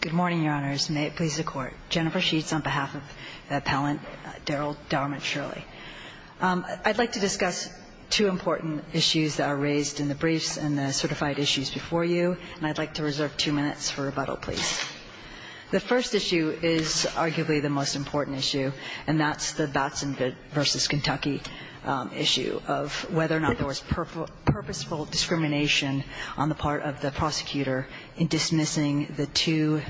Good morning, Your Honors. May it please the Court. Jennifer Sheets on behalf of the appellant, Darryl Darment Shirley. I'd like to discuss two important issues that are raised in the briefs and the certified issues before you, and I'd like to reserve two minutes for rebuttal, please. The first issue is arguably the most important issue, and that's the Batson v. Kentucky issue of whether or not there was purposeful discrimination on the part of the prosecutor in dismissing the two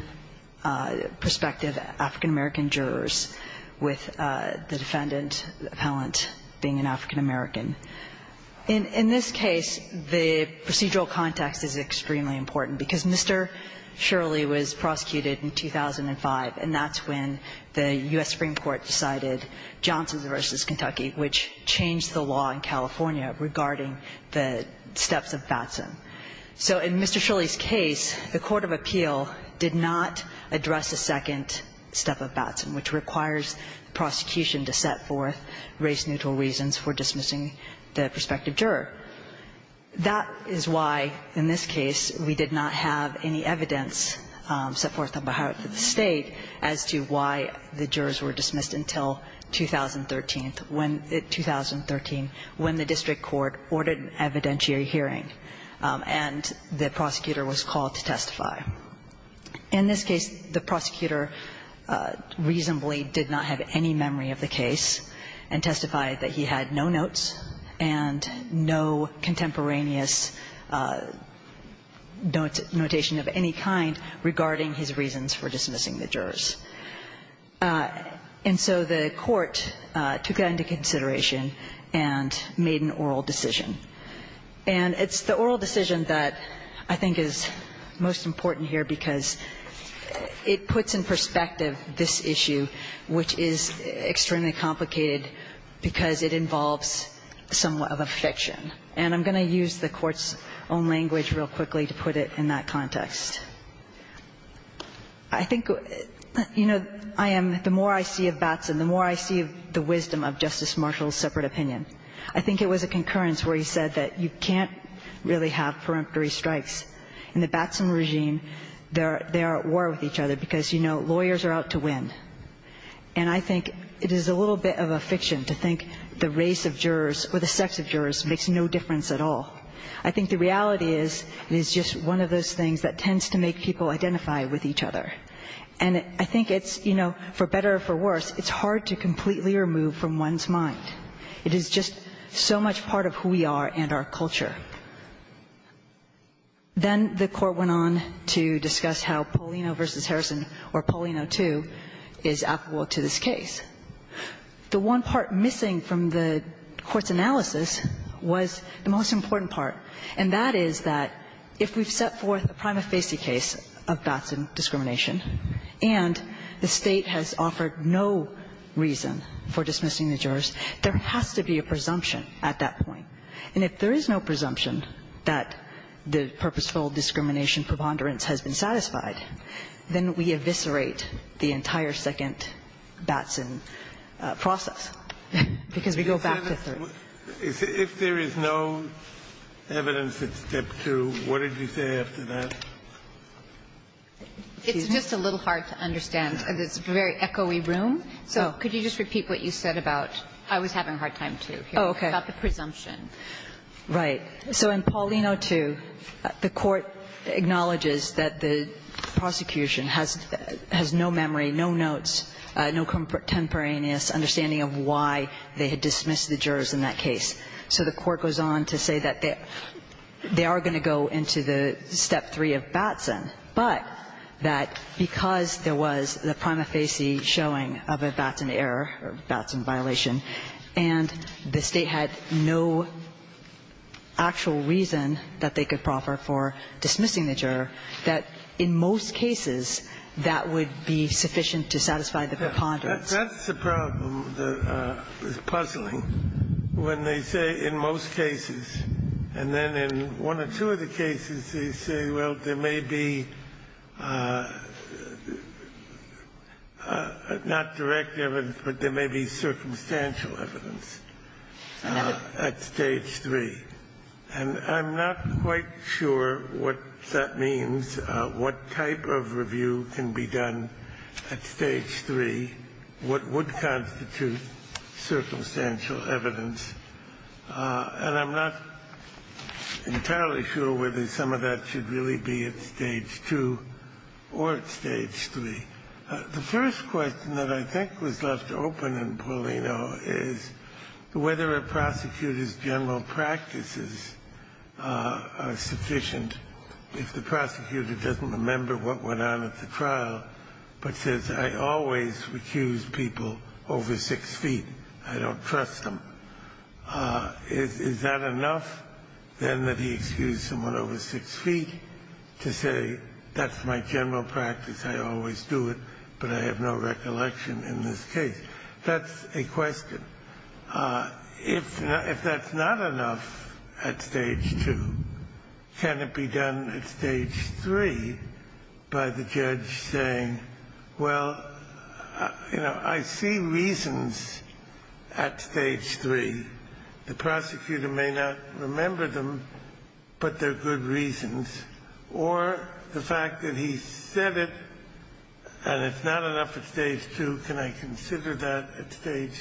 prospective African-American jurors with the defendant, the appellant, being an African-American. In this case, the procedural context is extremely important because Mr. Shirley was prosecuted in 2005, and that's when the U.S. Supreme Court decided Johnson v. Kentucky, which changed the law in California regarding the steps of Batson. So in Mr. Shirley's case, the court of appeal did not address a second step of Batson, which requires the prosecution to set forth race-neutral reasons for dismissing the prospective juror. That is why, in this case, we did not have any evidence set forth on behalf of the State as to why the jurors were dismissed until 2013, when the district court ordered an evidentiary hearing and the prosecutor was called to testify. In this case, the prosecutor reasonably did not have any memory of the case and testified that he had no notes and no contemporaneous notation of any kind regarding his reasons for dismissing the jurors. And so the court took that into consideration and made an oral decision. And it's the oral decision that I think is most important here because it puts in perspective this issue, which is extremely complicated because it involves somewhat of a fiction. And I'm going to use the Court's own language real quickly to put it in that context. I think, you know, I am the more I see of Batson, the more I see of the wisdom of Justice Marshall's separate opinion. I think it was a concurrence where he said that you can't really have peremptory strikes. In the Batson regime, they are at war with each other because, you know, lawyers are out to win. And I think it is a little bit of a fiction to think the race of jurors or the sex of jurors makes no difference at all. I think the reality is it is just one of those things that tends to make people identify with each other. And I think it's, you know, for better or for worse, it's hard to completely remove from one's mind. It is just so much part of who we are and our culture. Then the Court went on to discuss how Paulino v. Harrison or Paulino II is applicable to this case. The one part missing from the Court's analysis was the most important part, and that is that if we've set forth a prima facie case of Batson discrimination and the State has offered no reason for dismissing the jurors, there has to be a presumption at that point. And if there is no presumption that the purposeful discrimination preponderance has been satisfied, then we eviscerate the entire second Batson process, because we go back to third. If there is no evidence at step two, what did you say after that? It's just a little hard to understand. It's a very echoey room. So could you just repeat what you said about I was having a hard time, too, here. Oh, okay. About the presumption. Right. So in Paulino II, the Court acknowledges that the prosecution has no memory, no notes, no contemporaneous understanding of why they had dismissed the jurors in that case. So the Court goes on to say that they are going to go into the step three of Batson, but that because there was the prima facie showing of a Batson error or Batson that they could proffer for dismissing the juror, that in most cases that would be sufficient to satisfy the preponderance. That's the problem that is puzzling, when they say in most cases, and then in one or two of the cases, they say, well, there may be not direct evidence, but there may be circumstantial evidence at stage three. And I'm not quite sure what that means, what type of review can be done at stage three, what would constitute circumstantial evidence. And I'm not entirely sure whether some of that should really be at stage two or at stage three. The first question that I think was left open in Paulino is whether a prosecutor's general practices are sufficient if the prosecutor doesn't remember what went on at the trial, but says I always recuse people over 6 feet, I don't trust them. Is that enough, then, that he excused someone over 6 feet to say that's my general practice, I always do it, but I have no recollection in this case? That's a question. If that's not enough at stage two, can it be done at stage three by the judge saying, well, you know, I see reasons at stage three. The prosecutor may not remember them, but they're good reasons. Or the fact that he said it and it's not enough at stage two, can I consider that at stage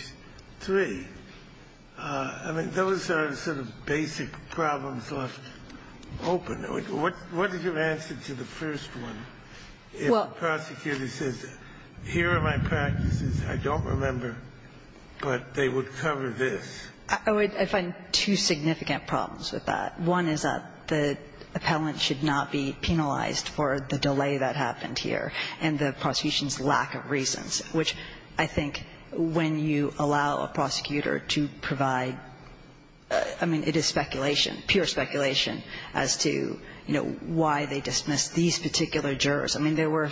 three? I mean, those are the sort of basic problems left open. What is your answer to the first one, if the prosecutor says, here are my practices, I don't remember, but they would cover this? I would find two significant problems with that. One is that the appellant should not be penalized for the delay that happened here and the prosecution's lack of reasons, which I think when you allow a prosecutor to provide, I mean, it is speculation, pure speculation as to, you know, why they dismissed these particular jurors. I mean, there were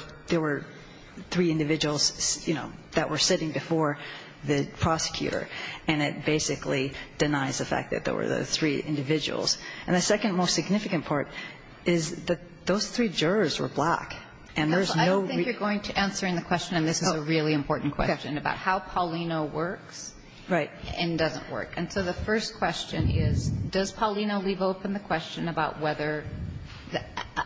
three individuals, you know, that were sitting before the prosecutor, and it basically denies the fact that there were the three individuals. And the second most significant part is that those three jurors were black and there is no reason. I think you're going to answer in the question, and this is a really important question, about how Paolino works and doesn't work. And so the first question is, does Paolino leave open the question about whether the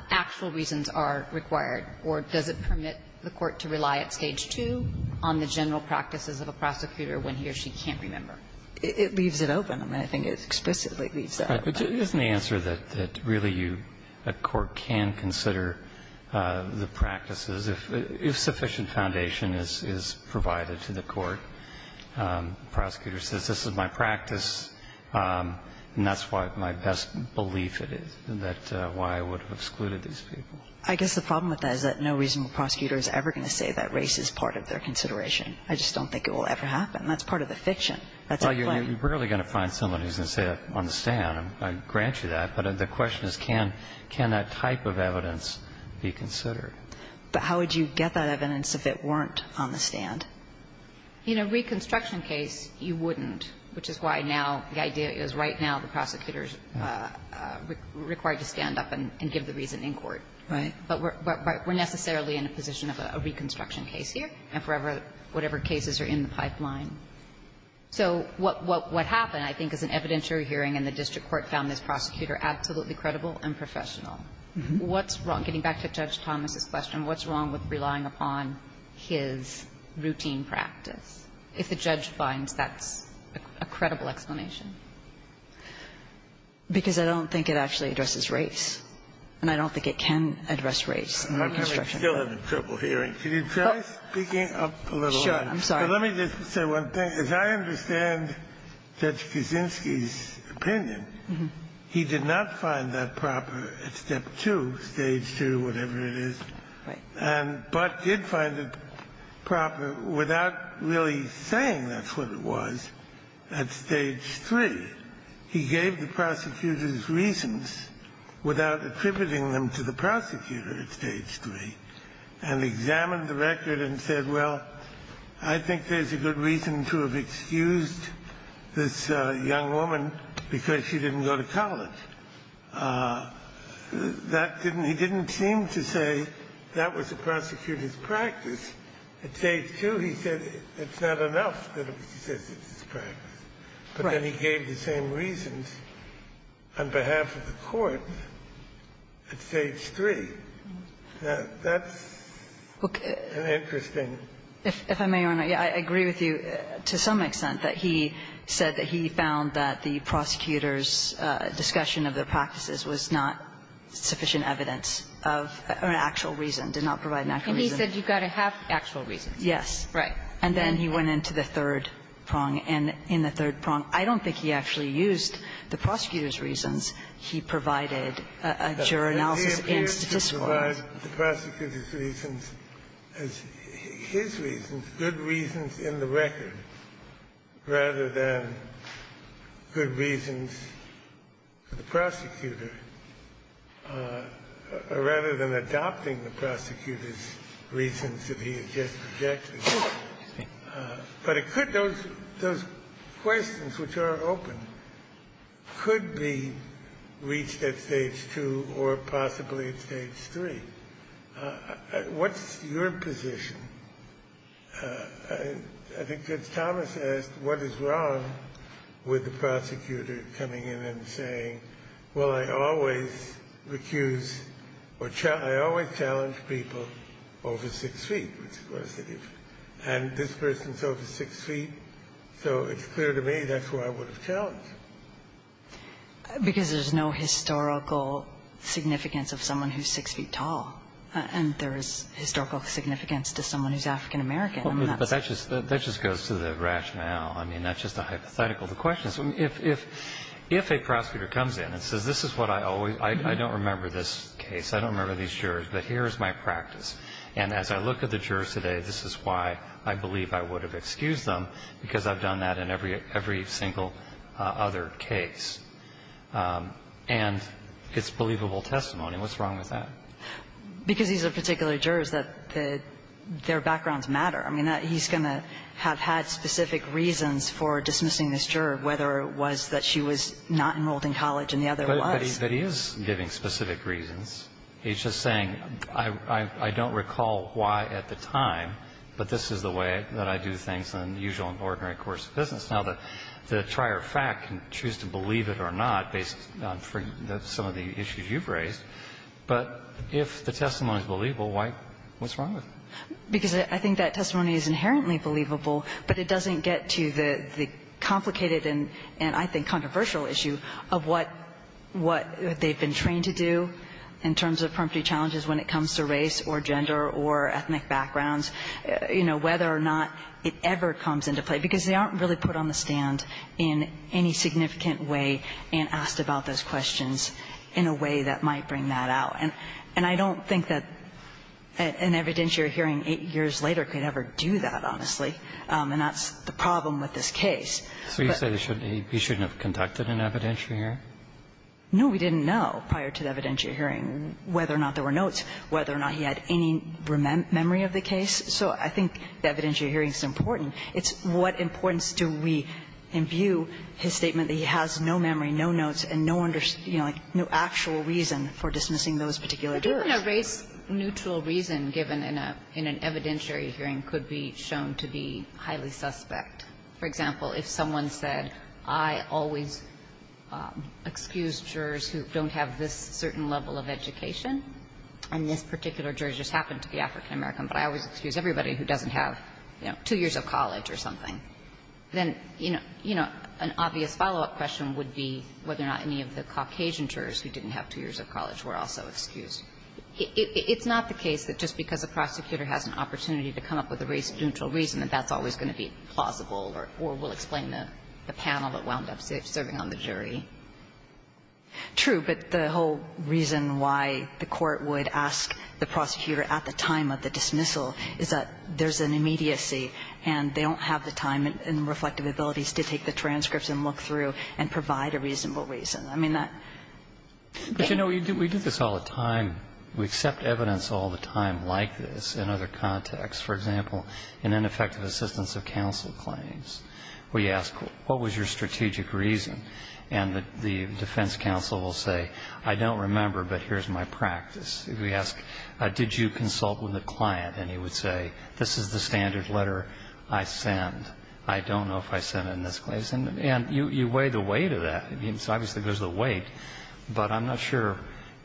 actual reasons are required, or does it permit the court to rely at stage two on the general practices of a prosecutor when he or she can't remember? It leaves it open. I mean, I think it explicitly leaves that open. But isn't the answer that really you, a court, can consider the practices? If sufficient foundation is provided to the court, the prosecutor says, this is my practice and that's what my best belief it is, that why I would have excluded these people. I guess the problem with that is that no reasonable prosecutor is ever going to say that race is part of their consideration. I just don't think it will ever happen. That's part of the fiction. That's a claim. Well, you're rarely going to find someone who's going to say that on the stand. I grant you that. But the question is, can that type of evidence be considered? But how would you get that evidence if it weren't on the stand? In a reconstruction case, you wouldn't, which is why now the idea is right now the prosecutor is required to stand up and give the reason in court. Right. But we're necessarily in a position of a reconstruction case here and forever whatever cases are in the pipeline. So what happened, I think, is an evidentiary hearing and the district court found this prosecutor absolutely credible and professional. Getting back to Judge Thomas's question, what's wrong with relying upon his routine practice if the judge finds that's a credible explanation? Because I don't think it actually addresses race. And I don't think it can address race in reconstruction. We're still having trouble hearing. Can you try speaking up a little? I'm sorry. Let me just say one thing. As I understand Judge Kuczynski's opinion, he did not find that proper at Step 2, Stage 2, whatever it is. Right. But did find it proper without really saying that's what it was at Stage 3. He gave the prosecutors reasons without attributing them to the prosecutor at Stage 3 and examined the record and said, well, I think there's a good reason to have excused this young woman because she didn't go to college. That didn't he didn't seem to say that was the prosecutor's practice. At Stage 2, he said it's not enough that it was his practice. Right. And then he gave the same reasons on behalf of the court at Stage 3. That's an interesting. If I may, Your Honor, I agree with you to some extent that he said that he found that the prosecutor's discussion of their practices was not sufficient evidence of an actual reason, did not provide an actual reason. And he said you've got to have actual reasons. Yes. Right. And then he went into the third prong. And in the third prong, I don't think he actually used the prosecutor's reasons. He provided a juror analysis and statisquores. He appears to provide the prosecutor's reasons as his reasons, good reasons in the record, rather than good reasons for the prosecutor, rather than adopting the prosecutor's reasoning. But it could, those questions which are open could be reached at Stage 2 or possibly at Stage 3. What's your position? I think Judge Thomas asked what is wrong with the prosecutor coming in and saying, well, I always recuse or I always challenge people over 6 feet, which is what I'm thinking of. And this person's over 6 feet, so it's clear to me that's who I would have challenged. Because there's no historical significance of someone who's 6 feet tall. And there is historical significance to someone who's African-American. But that just goes to the rationale. I mean, that's just a hypothetical. The question is, if a prosecutor comes in and says, this is what I always, I don't remember this case, I don't remember these jurors, but here is my practice. And as I look at the jurors today, this is why I believe I would have excused them, because I've done that in every single other case. And it's believable testimony. What's wrong with that? Because these are particular jurors that their backgrounds matter. I mean, he's going to have had specific reasons for dismissing this juror, whether it was that she was not enrolled in college and the other was. But he is giving specific reasons. He's just saying, I don't recall why at the time, but this is the way that I do things on the usual and ordinary course of business. Now, the trier of fact can choose to believe it or not based on some of the issues you've raised. But if the testimony is believable, what's wrong with it? Because I think that testimony is inherently believable, but it doesn't get to the complicated and, I think, controversial issue of what they've been trained to do in terms of permittee challenges when it comes to race or gender or ethnic backgrounds, you know, whether or not it ever comes into play. Because they aren't really put on the stand in any significant way and asked about those questions in a way that might bring that out. And I don't think that an evidentiary hearing 8 years later could ever do that, honestly, and that's the problem with this case. But you shouldn't have conducted an evidentiary hearing? No, we didn't know prior to the evidentiary hearing whether or not there were notes, whether or not he had any memory of the case. So I think the evidentiary hearing is important. It's what importance do we imbue his statement that he has no memory, no notes, and no actual reason for dismissing those particular jurors? Even a race-neutral reason given in an evidentiary hearing could be shown to be highly suspect. For example, if someone said, I always excuse jurors who don't have this certain level of education, and this particular juror just happened to be African-American, but I always excuse everybody who doesn't have, you know, 2 years of college or something, then, you know, you know, an obvious follow-up question would be whether or not any of the Caucasian jurors who didn't have 2 years of college were also excused. It's not the case that just because a prosecutor has an opportunity to come up with a race-neutral reason, that that's always going to be plausible, or we'll explain the panel that wound up serving on the jury. True, but the whole reason why the Court would ask the prosecutor at the time of the dismissal is that there's an immediacy, and they don't have the time and reflective abilities to take the transcripts and look through and provide a reasonable reason. I mean, that's the case. But, you know, we do this all the time. We accept evidence all the time like this in other contexts. For example, in ineffective assistance of counsel claims, we ask, what was your strategic reason? And the defense counsel will say, I don't remember, but here's my practice. We ask, did you consult with the client? And he would say, this is the standard letter I send. I don't know if I sent it in this case. And you weigh the weight of that. I mean, so obviously there's a weight, but I'm not sure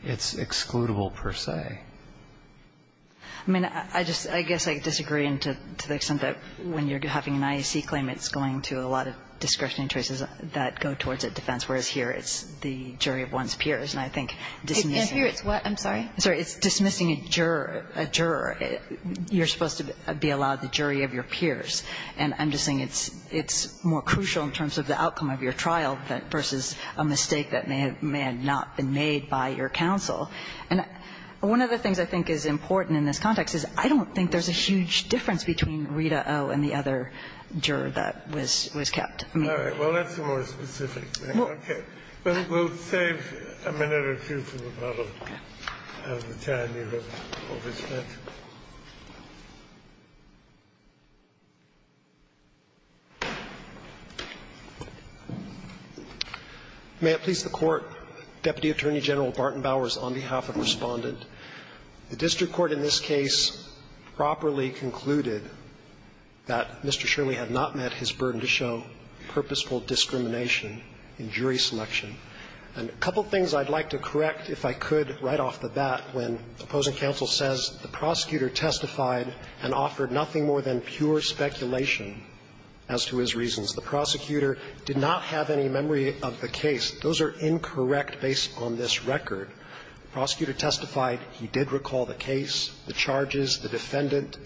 it's excludable per se. I mean, I just guess I disagree to the extent that when you're having an IAC claim, it's going to a lot of discretionary choices that go towards a defense, whereas here it's the jury of one's peers. And I think dismissal. I'm sorry? I'm sorry. It's dismissing a juror. You're supposed to be allowed the jury of your peers. And I'm just saying it's more crucial in terms of the outcome of your trial versus a mistake that may have not been made by your counsel. And one of the things I think is important in this context is I don't think there's a huge difference between Rita O. and the other juror that was kept. All right. Well, that's a more specific thing. Okay. Well, we'll save a minute or two for the bottle of the time you have over spent. May it please the Court, Deputy Attorney General Barton Bowers, on behalf of the Respondent. The district court in this case properly concluded that Mr. Shirmley had not met his burden to show purposeful discrimination in jury selection. And a couple things I'd like to correct, if I could, right off the bat, when the opposing counsel says the prosecutor testified and offered nothing more than pure speculation as to his reasons. The prosecutor did not have any memory of the case. Those are incorrect based on this record. The prosecutor testified he did recall the case, the charges, the defendant.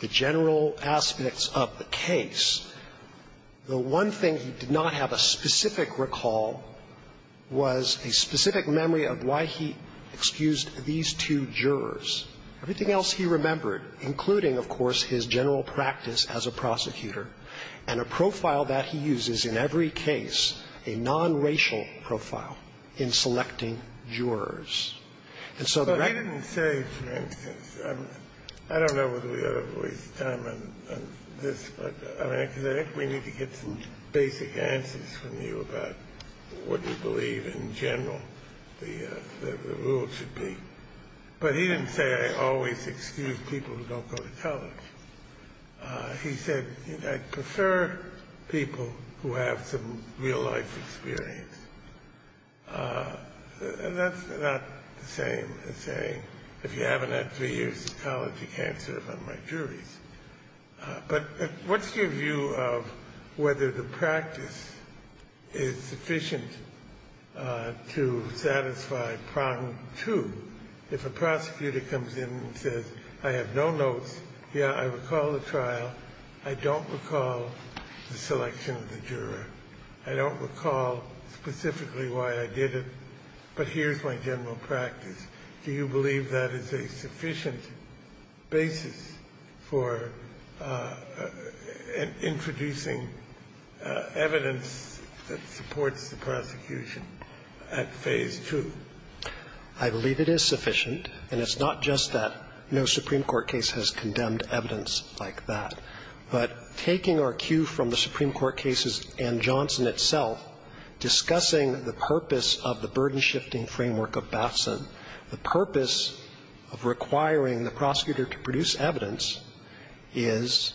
The general aspects of the case, the one thing he did not have a specific recall was a specific memory of why he excused these two jurors. Everything else he remembered, including, of course, his general practice as a prosecutor, and a profile that he uses in every case, a nonracial profile, in selecting jurors. And so the right to say, for instance, I don't know if this is true, but I don't know whether we ought to waste time on this, but I mean, because I think we need to get some basic answers from you about what you believe, in general, the rules should be. But he didn't say, I always excuse people who don't go to college. He said, I prefer people who have some real-life experience. That's not the same as saying, if you haven't had three years of college, you can't serve on my juries. But what's your view of whether the practice is sufficient to satisfy prong two? If a prosecutor comes in and says, I have no notes, yes, I recall the trial, I don't recall the selection of the juror, I don't recall specifically why I did it, but here's my general practice. Do you believe that is a sufficient basis for introducing evidence that supports the prosecution at phase two? I believe it is sufficient, and it's not just that no Supreme Court case has condemned evidence like that. But taking our cue from the Supreme Court cases and Johnson itself, discussing the purpose of the burden-shifting framework of Batson, the purpose of requiring the prosecutor to produce evidence is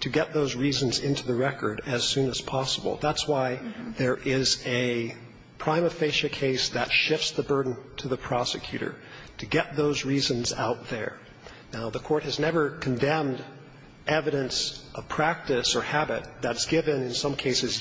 to get those reasons into the record as soon as possible. That's why there is a prima facie case that shifts the burden to the prosecutor to get those reasons out there. Now, the Court has never condemned evidence of practice or habit that's given in some cases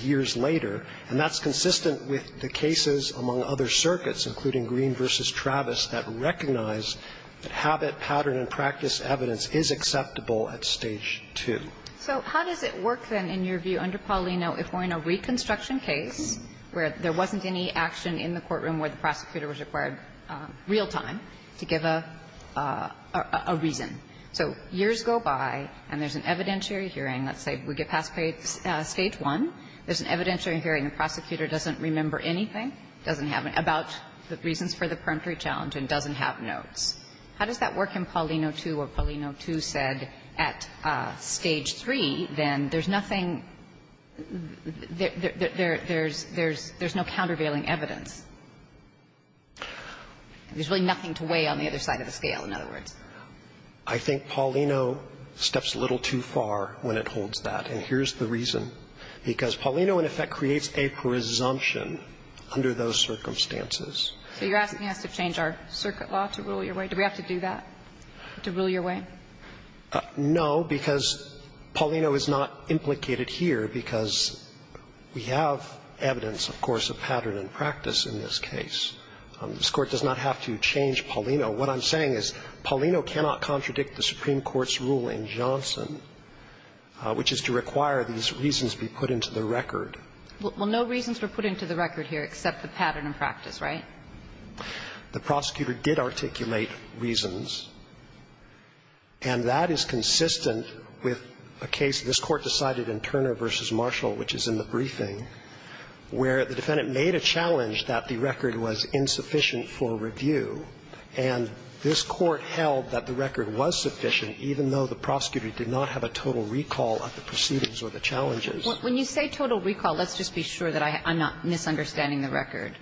among other circuits, including Green v. Travis, that recognize that habit, pattern, and practice evidence is acceptable at stage two. So how does it work, then, in your view under Paulino if we're in a reconstruction case where there wasn't any action in the courtroom where the prosecutor was required real time to give a reason? So years go by and there's an evidentiary hearing. Let's say we get past stage one. There's an evidentiary hearing. The prosecutor doesn't remember anything, doesn't have anything, about the reasons for the peremptory challenge, and doesn't have notes. How does that work in Paulino II, where Paulino II said at stage three, then, there's nothing, there's no countervailing evidence? There's really nothing to weigh on the other side of the scale, in other words. I think Paulino steps a little too far when it holds that. And here's the reason, because Paulino, in effect, creates a presumption under those circumstances. So you're asking us to change our circuit law to rule your way? Do we have to do that, to rule your way? No, because Paulino is not implicated here, because we have evidence, of course, of pattern and practice in this case. This Court does not have to change Paulino. What I'm saying is Paulino cannot contradict the Supreme Court's rule in Johnson, which is to require these reasons be put into the record. Well, no reasons were put into the record here except the pattern and practice, right? The prosecutor did articulate reasons, and that is consistent with a case this Court decided in Turner v. Marshall, which is in the briefing, where the defendant made a challenge that the record was insufficient for review, and this Court held that the record was sufficient, even though the prosecutor did not have a total recall of the proceedings or the challenges. When you say total recall, let's just be sure that I'm not misunderstanding the record.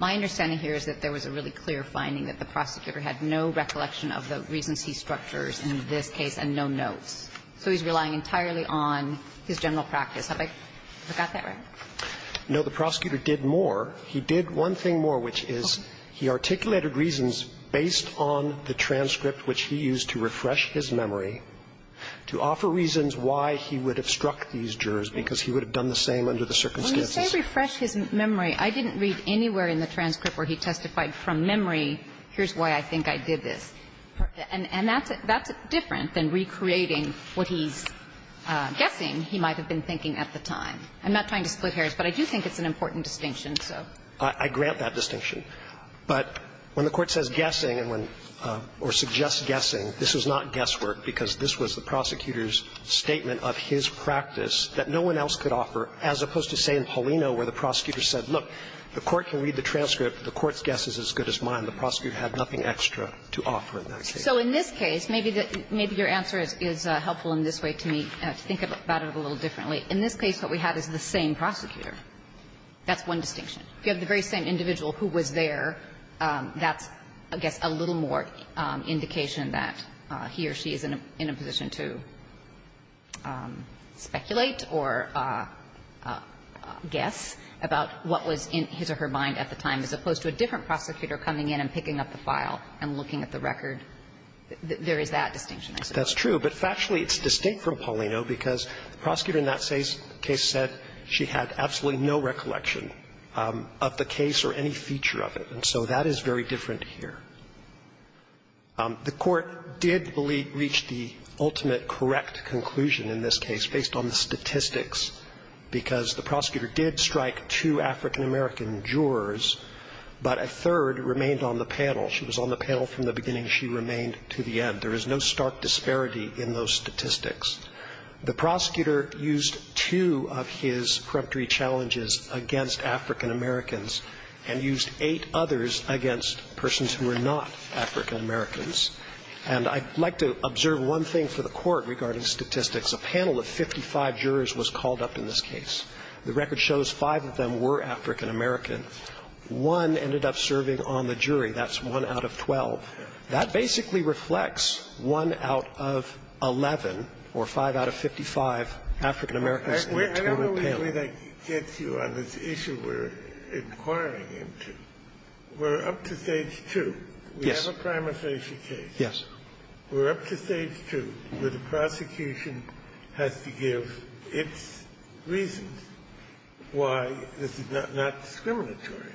My understanding here is that there was a really clear finding that the prosecutor had no recollection of the reasons he structures in this case and no notes. So he's relying entirely on his general practice. Have I got that right? No. The prosecutor did more. He did one thing more, which is he articulated reasons based on the transcript which he used to refresh his memory, to offer reasons why he would have struck these jurors, because he would have done the same under the circumstances. When you say refresh his memory, I didn't read anywhere in the transcript where he testified from memory, here's why I think I did this. And that's different than recreating what he's guessing he might have been thinking at the time. I'm not trying to split hairs, but I do think it's an important distinction, so. I grant that distinction. But when the Court says guessing and when or suggests guessing, this is not guesswork because this was the prosecutor's statement of his practice that no one else could offer, as opposed to, say, in Paulino where the prosecutor said, look, the Court can read the transcript, the Court's guess is as good as mine, the prosecutor had nothing extra to offer in that case. So in this case, maybe your answer is helpful in this way to me, to think about it a little differently. In this case, what we have is the same prosecutor. That's one distinction. If you have the very same individual who was there, that's, I guess, a little more indication that he or she is in a position to speculate or guess about what was in his or her mind at the time, as opposed to a different prosecutor coming in and picking up the file and looking at the record. There is that distinction. That's true. But factually, it's distinct from Paulino because the prosecutor in that case said she had absolutely no recollection. Of the case or any feature of it. And so that is very different here. The Court did reach the ultimate correct conclusion in this case based on the statistics, because the prosecutor did strike two African-American jurors, but a third remained on the panel. She was on the panel from the beginning. She remained to the end. There is no stark disparity in those statistics. The prosecutor used two of his preemptory challenges against African-Americans and used eight others against persons who are not African-Americans. And I'd like to observe one thing for the Court regarding statistics. A panel of 55 jurors was called up in this case. The record shows five of them were African-American. One ended up serving on the jury. That's one out of 12. That basically reflects one out of 11 or five out of 55 African-Americans in the total panel. Scalia. I don't know whether that gets you on this issue we're inquiring into. We're up to Stage 2. We have a prima facie case. We're up to Stage 2, where the prosecution has to give its reasons why this is not discriminatory.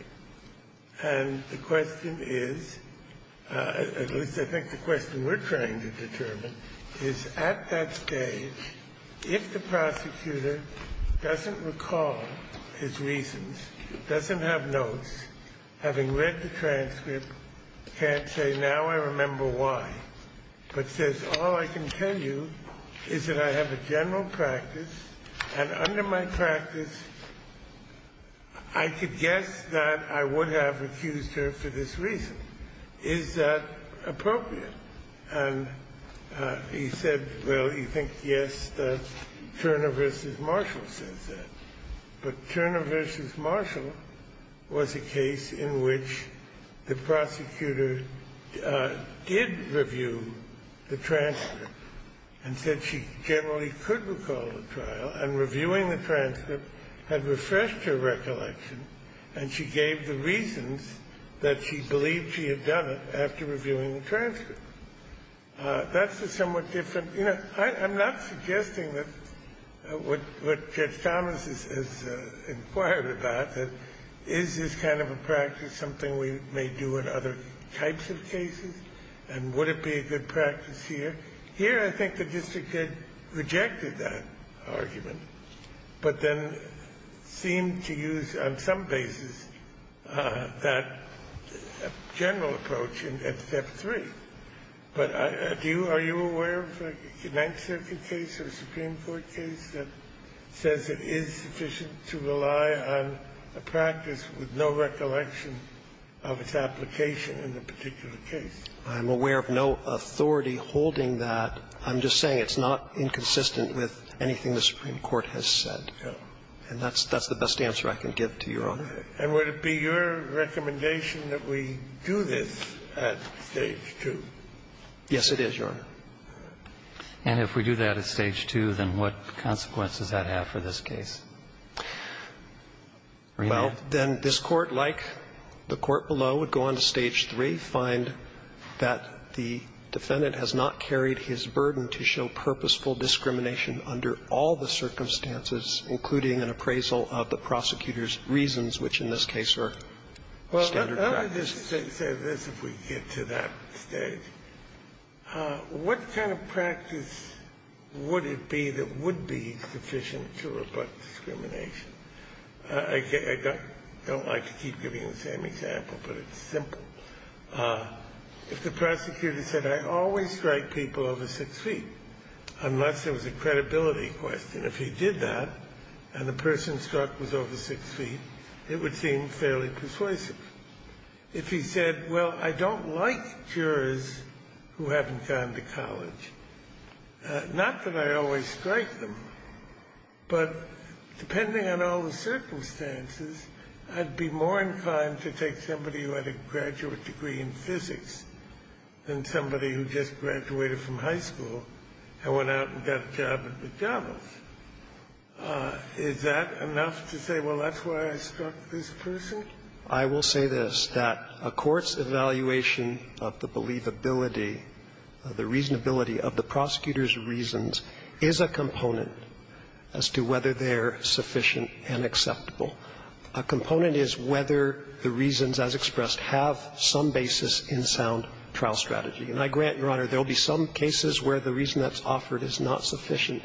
And the question is, at least I think the question we're trying to determine, is at that stage, if the prosecutor doesn't recall his reasons, doesn't have notes, having read the transcript, can't say, now I remember why, but says, all I can tell you is that I have a general practice. And under my practice, I could guess that I would have accused her for this reason. Is that appropriate? And he said, well, he thinks, yes, that Turner v. Marshall says that. But Turner v. Marshall was a case in which the prosecutor did review the transcript and said she generally could recall the trial, and reviewing the transcript had refreshed her recollection, and she gave the reasons that she believed she had done it after reviewing the transcript. That's a somewhat different you know, I'm not suggesting that what Judge Thomas has inquired about, that is this kind of a practice something we may do in other types of cases? And would it be a good practice here? Here, I think the district had rejected that argument, but then seemed to use on some basis that general approach in Step 3. But do you, are you aware of a Ninth Circuit case or a Supreme Court case that says it is sufficient to rely on a practice with no recollection of its application in the particular case? I'm aware of no authority holding that. I'm just saying it's not inconsistent with anything the Supreme Court has said. And that's the best answer I can give to Your Honor. And would it be your recommendation that we do this at Stage 2? Yes, it is, Your Honor. And if we do that at Stage 2, then what consequence does that have for this case? Well, then this Court, like the Court below, would go on to Stage 3, find the case that the defendant has not carried his burden to show purposeful discrimination under all the circumstances, including an appraisal of the prosecutor's reasons, which in this case are standard practice. Well, let me just say this, if we get to that stage. What kind of practice would it be that would be sufficient to rebut discrimination? I don't like to keep giving the same example, but it's simple. If the prosecutor said, I always strike people over 6 feet, unless there was a credibility question, if he did that and the person struck was over 6 feet, it would seem fairly persuasive. If he said, well, I don't like jurors who haven't gone to college, not that I always strike them, but depending on all the circumstances, I'd be more inclined to take somebody who had a graduate degree in physics than somebody who just graduated from high school and went out and got a job at McDonald's, is that enough to say, well, that's why I struck this person? I will say this, that a court's evaluation of the believability, the reasonability of the prosecutor's reasons is a component as to whether they're sufficient and acceptable. A component is whether the reasons as expressed have some basis in sound trial strategy. And I grant, Your Honor, there will be some cases where the reason that's offered is not sufficient.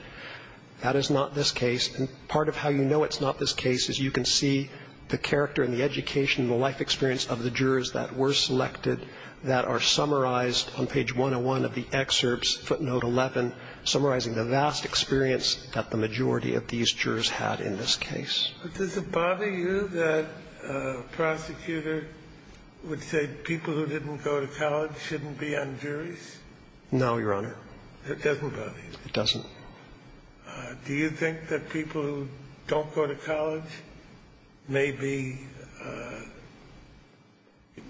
That is not this case. And part of how you know it's not this case is you can see the character and the education and the life experience of the jurors that were selected that are summarized on page 101 of the excerpts, footnote 11, summarizing the vast experience that the majority of these jurors had in this case. But does it bother you that a prosecutor would say people who didn't go to college shouldn't be on juries? No, Your Honor. It doesn't bother you? It doesn't. Do you think that people who don't go to college may be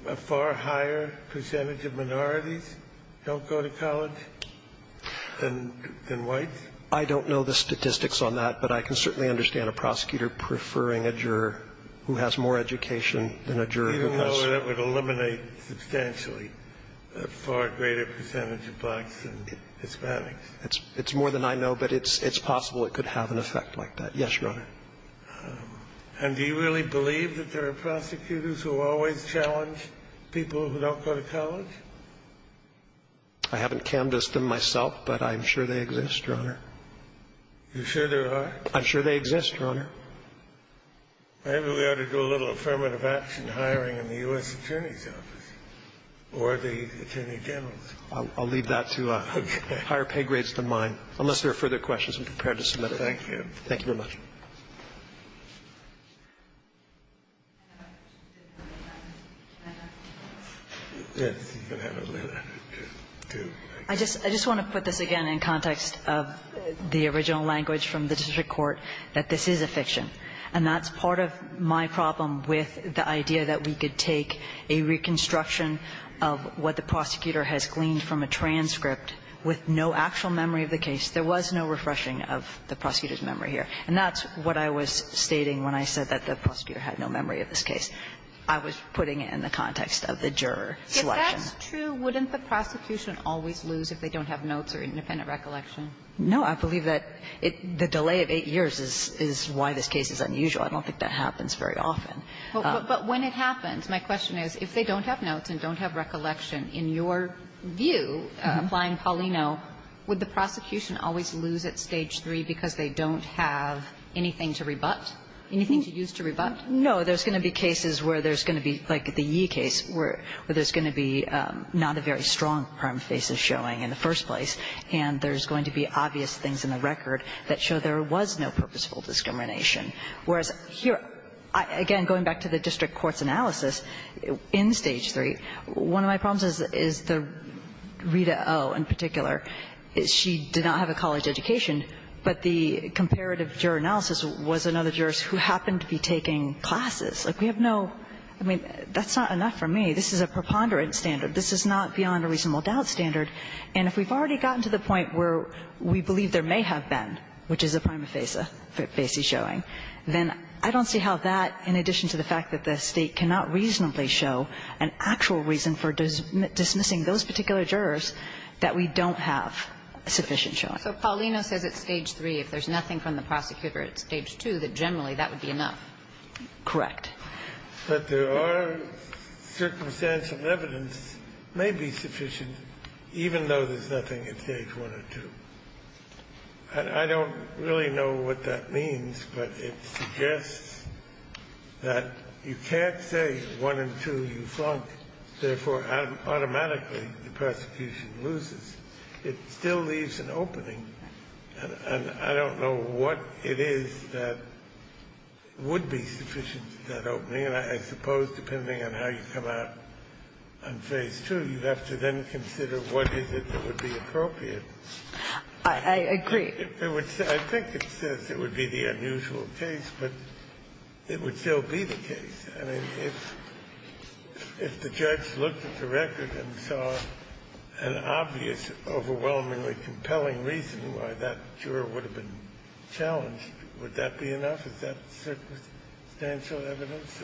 a far higher percentage of minorities don't go to college than whites? I don't know the statistics on that, but I can certainly understand a prosecutor preferring a juror who has more education than a juror who does. Even though that would eliminate substantially a far greater percentage of blacks than Hispanics. It's more than I know, but it's possible it could have an effect like that. Yes, Your Honor. And do you really believe that there are prosecutors who always challenge people who don't go to college? I haven't canvassed them myself, but I'm sure they exist, Your Honor. You're sure there are? I'm sure they exist, Your Honor. Maybe we ought to do a little affirmative action hiring in the U.S. Attorney's Office or the Attorney General's. I'll leave that to higher pay grades than mine, unless there are further questions Thank you. Thank you very much. I just want to put this again in context of the original language from the district court, that this is a fiction, and that's part of my problem with the idea that we could take a reconstruction of what the prosecutor has gleaned from a transcript with no actual memory of the case. There was no refreshing of the prosecutor's memory here, and that's why I'm asking That's what I was stating when I said that the prosecutor had no memory of this case. I was putting it in the context of the juror selection. If that's true, wouldn't the prosecution always lose if they don't have notes or independent recollection? No. I believe that the delay of 8 years is why this case is unusual. I don't think that happens very often. But when it happens, my question is, if they don't have notes and don't have recollection, in your view, applying Paulino, would the prosecution always lose at stage 3 because they don't have anything to rebut, anything to use to rebut? No. There's going to be cases where there's going to be, like the Yee case, where there's going to be not a very strong prime face showing in the first place, and there's going to be obvious things in the record that show there was no purposeful discrimination. Whereas here, again, going back to the district court's analysis, in stage 3, one of my problems is the Rita O. in particular. She did not have a college education, but the comparative juror analysis was another juror who happened to be taking classes. Like, we have no – I mean, that's not enough for me. This is a preponderant standard. This is not beyond a reasonable doubt standard. And if we've already gotten to the point where we believe there may have been, which is a prime face showing, then I don't see how that, in addition to the fact that the State cannot reasonably show an actual reason for dismissing those particular jurors, that we don't have sufficient showing. Kagan. So Paulino says at stage 3, if there's nothing from the prosecutor at stage 2, that generally that would be enough. Correct. But there are – circumstantial evidence may be sufficient, even though there's nothing at stage 1 or 2. I don't really know what that means, but it suggests that you can't say 1 and 2, you It still leaves an opening, and I don't know what it is that would be sufficient at that opening. And I suppose, depending on how you come out on phase 2, you'd have to then consider what is it that would be appropriate. I agree. I think it says it would be the unusual case, but it would still be the case. I mean, if the judge looked at the record and saw an obvious, overwhelmingly compelling reason why that juror would have been challenged, would that be enough? Is that circumstantial evidence?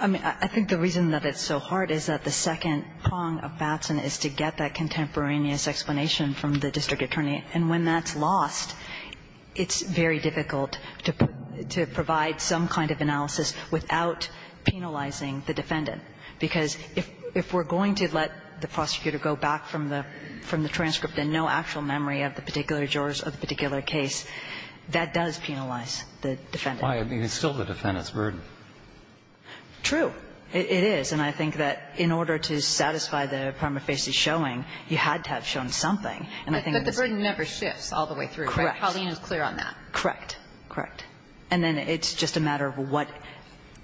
I mean, I think the reason that it's so hard is that the second prong of Batson is to get that contemporaneous explanation from the district attorney. And when that's lost, it's very difficult to provide some kind of analysis without penalizing the defendant, because if we're going to let the prosecutor go back from the transcript and no actual memory of the particular jurors of the particular case, that does penalize the defendant. Why? I mean, it's still the defendant's burden. True. It is. And I think that in order to satisfy the prima facie showing, you had to have shown something. But the burden never shifts all the way through, right? Correct. Pauline is clear on that. Correct. Correct. And then it's just a matter of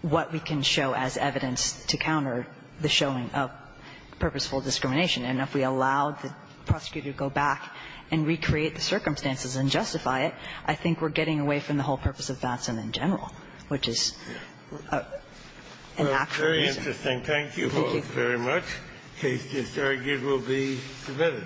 what we can show as evidence to counter the showing of purposeful discrimination. And if we allow the prosecutor to go back and recreate the circumstances and justify it, I think we're getting away from the whole purpose of Batson in general, which is an actual reason. Well, very interesting. Thank you both very much. The case is argued will be submitted.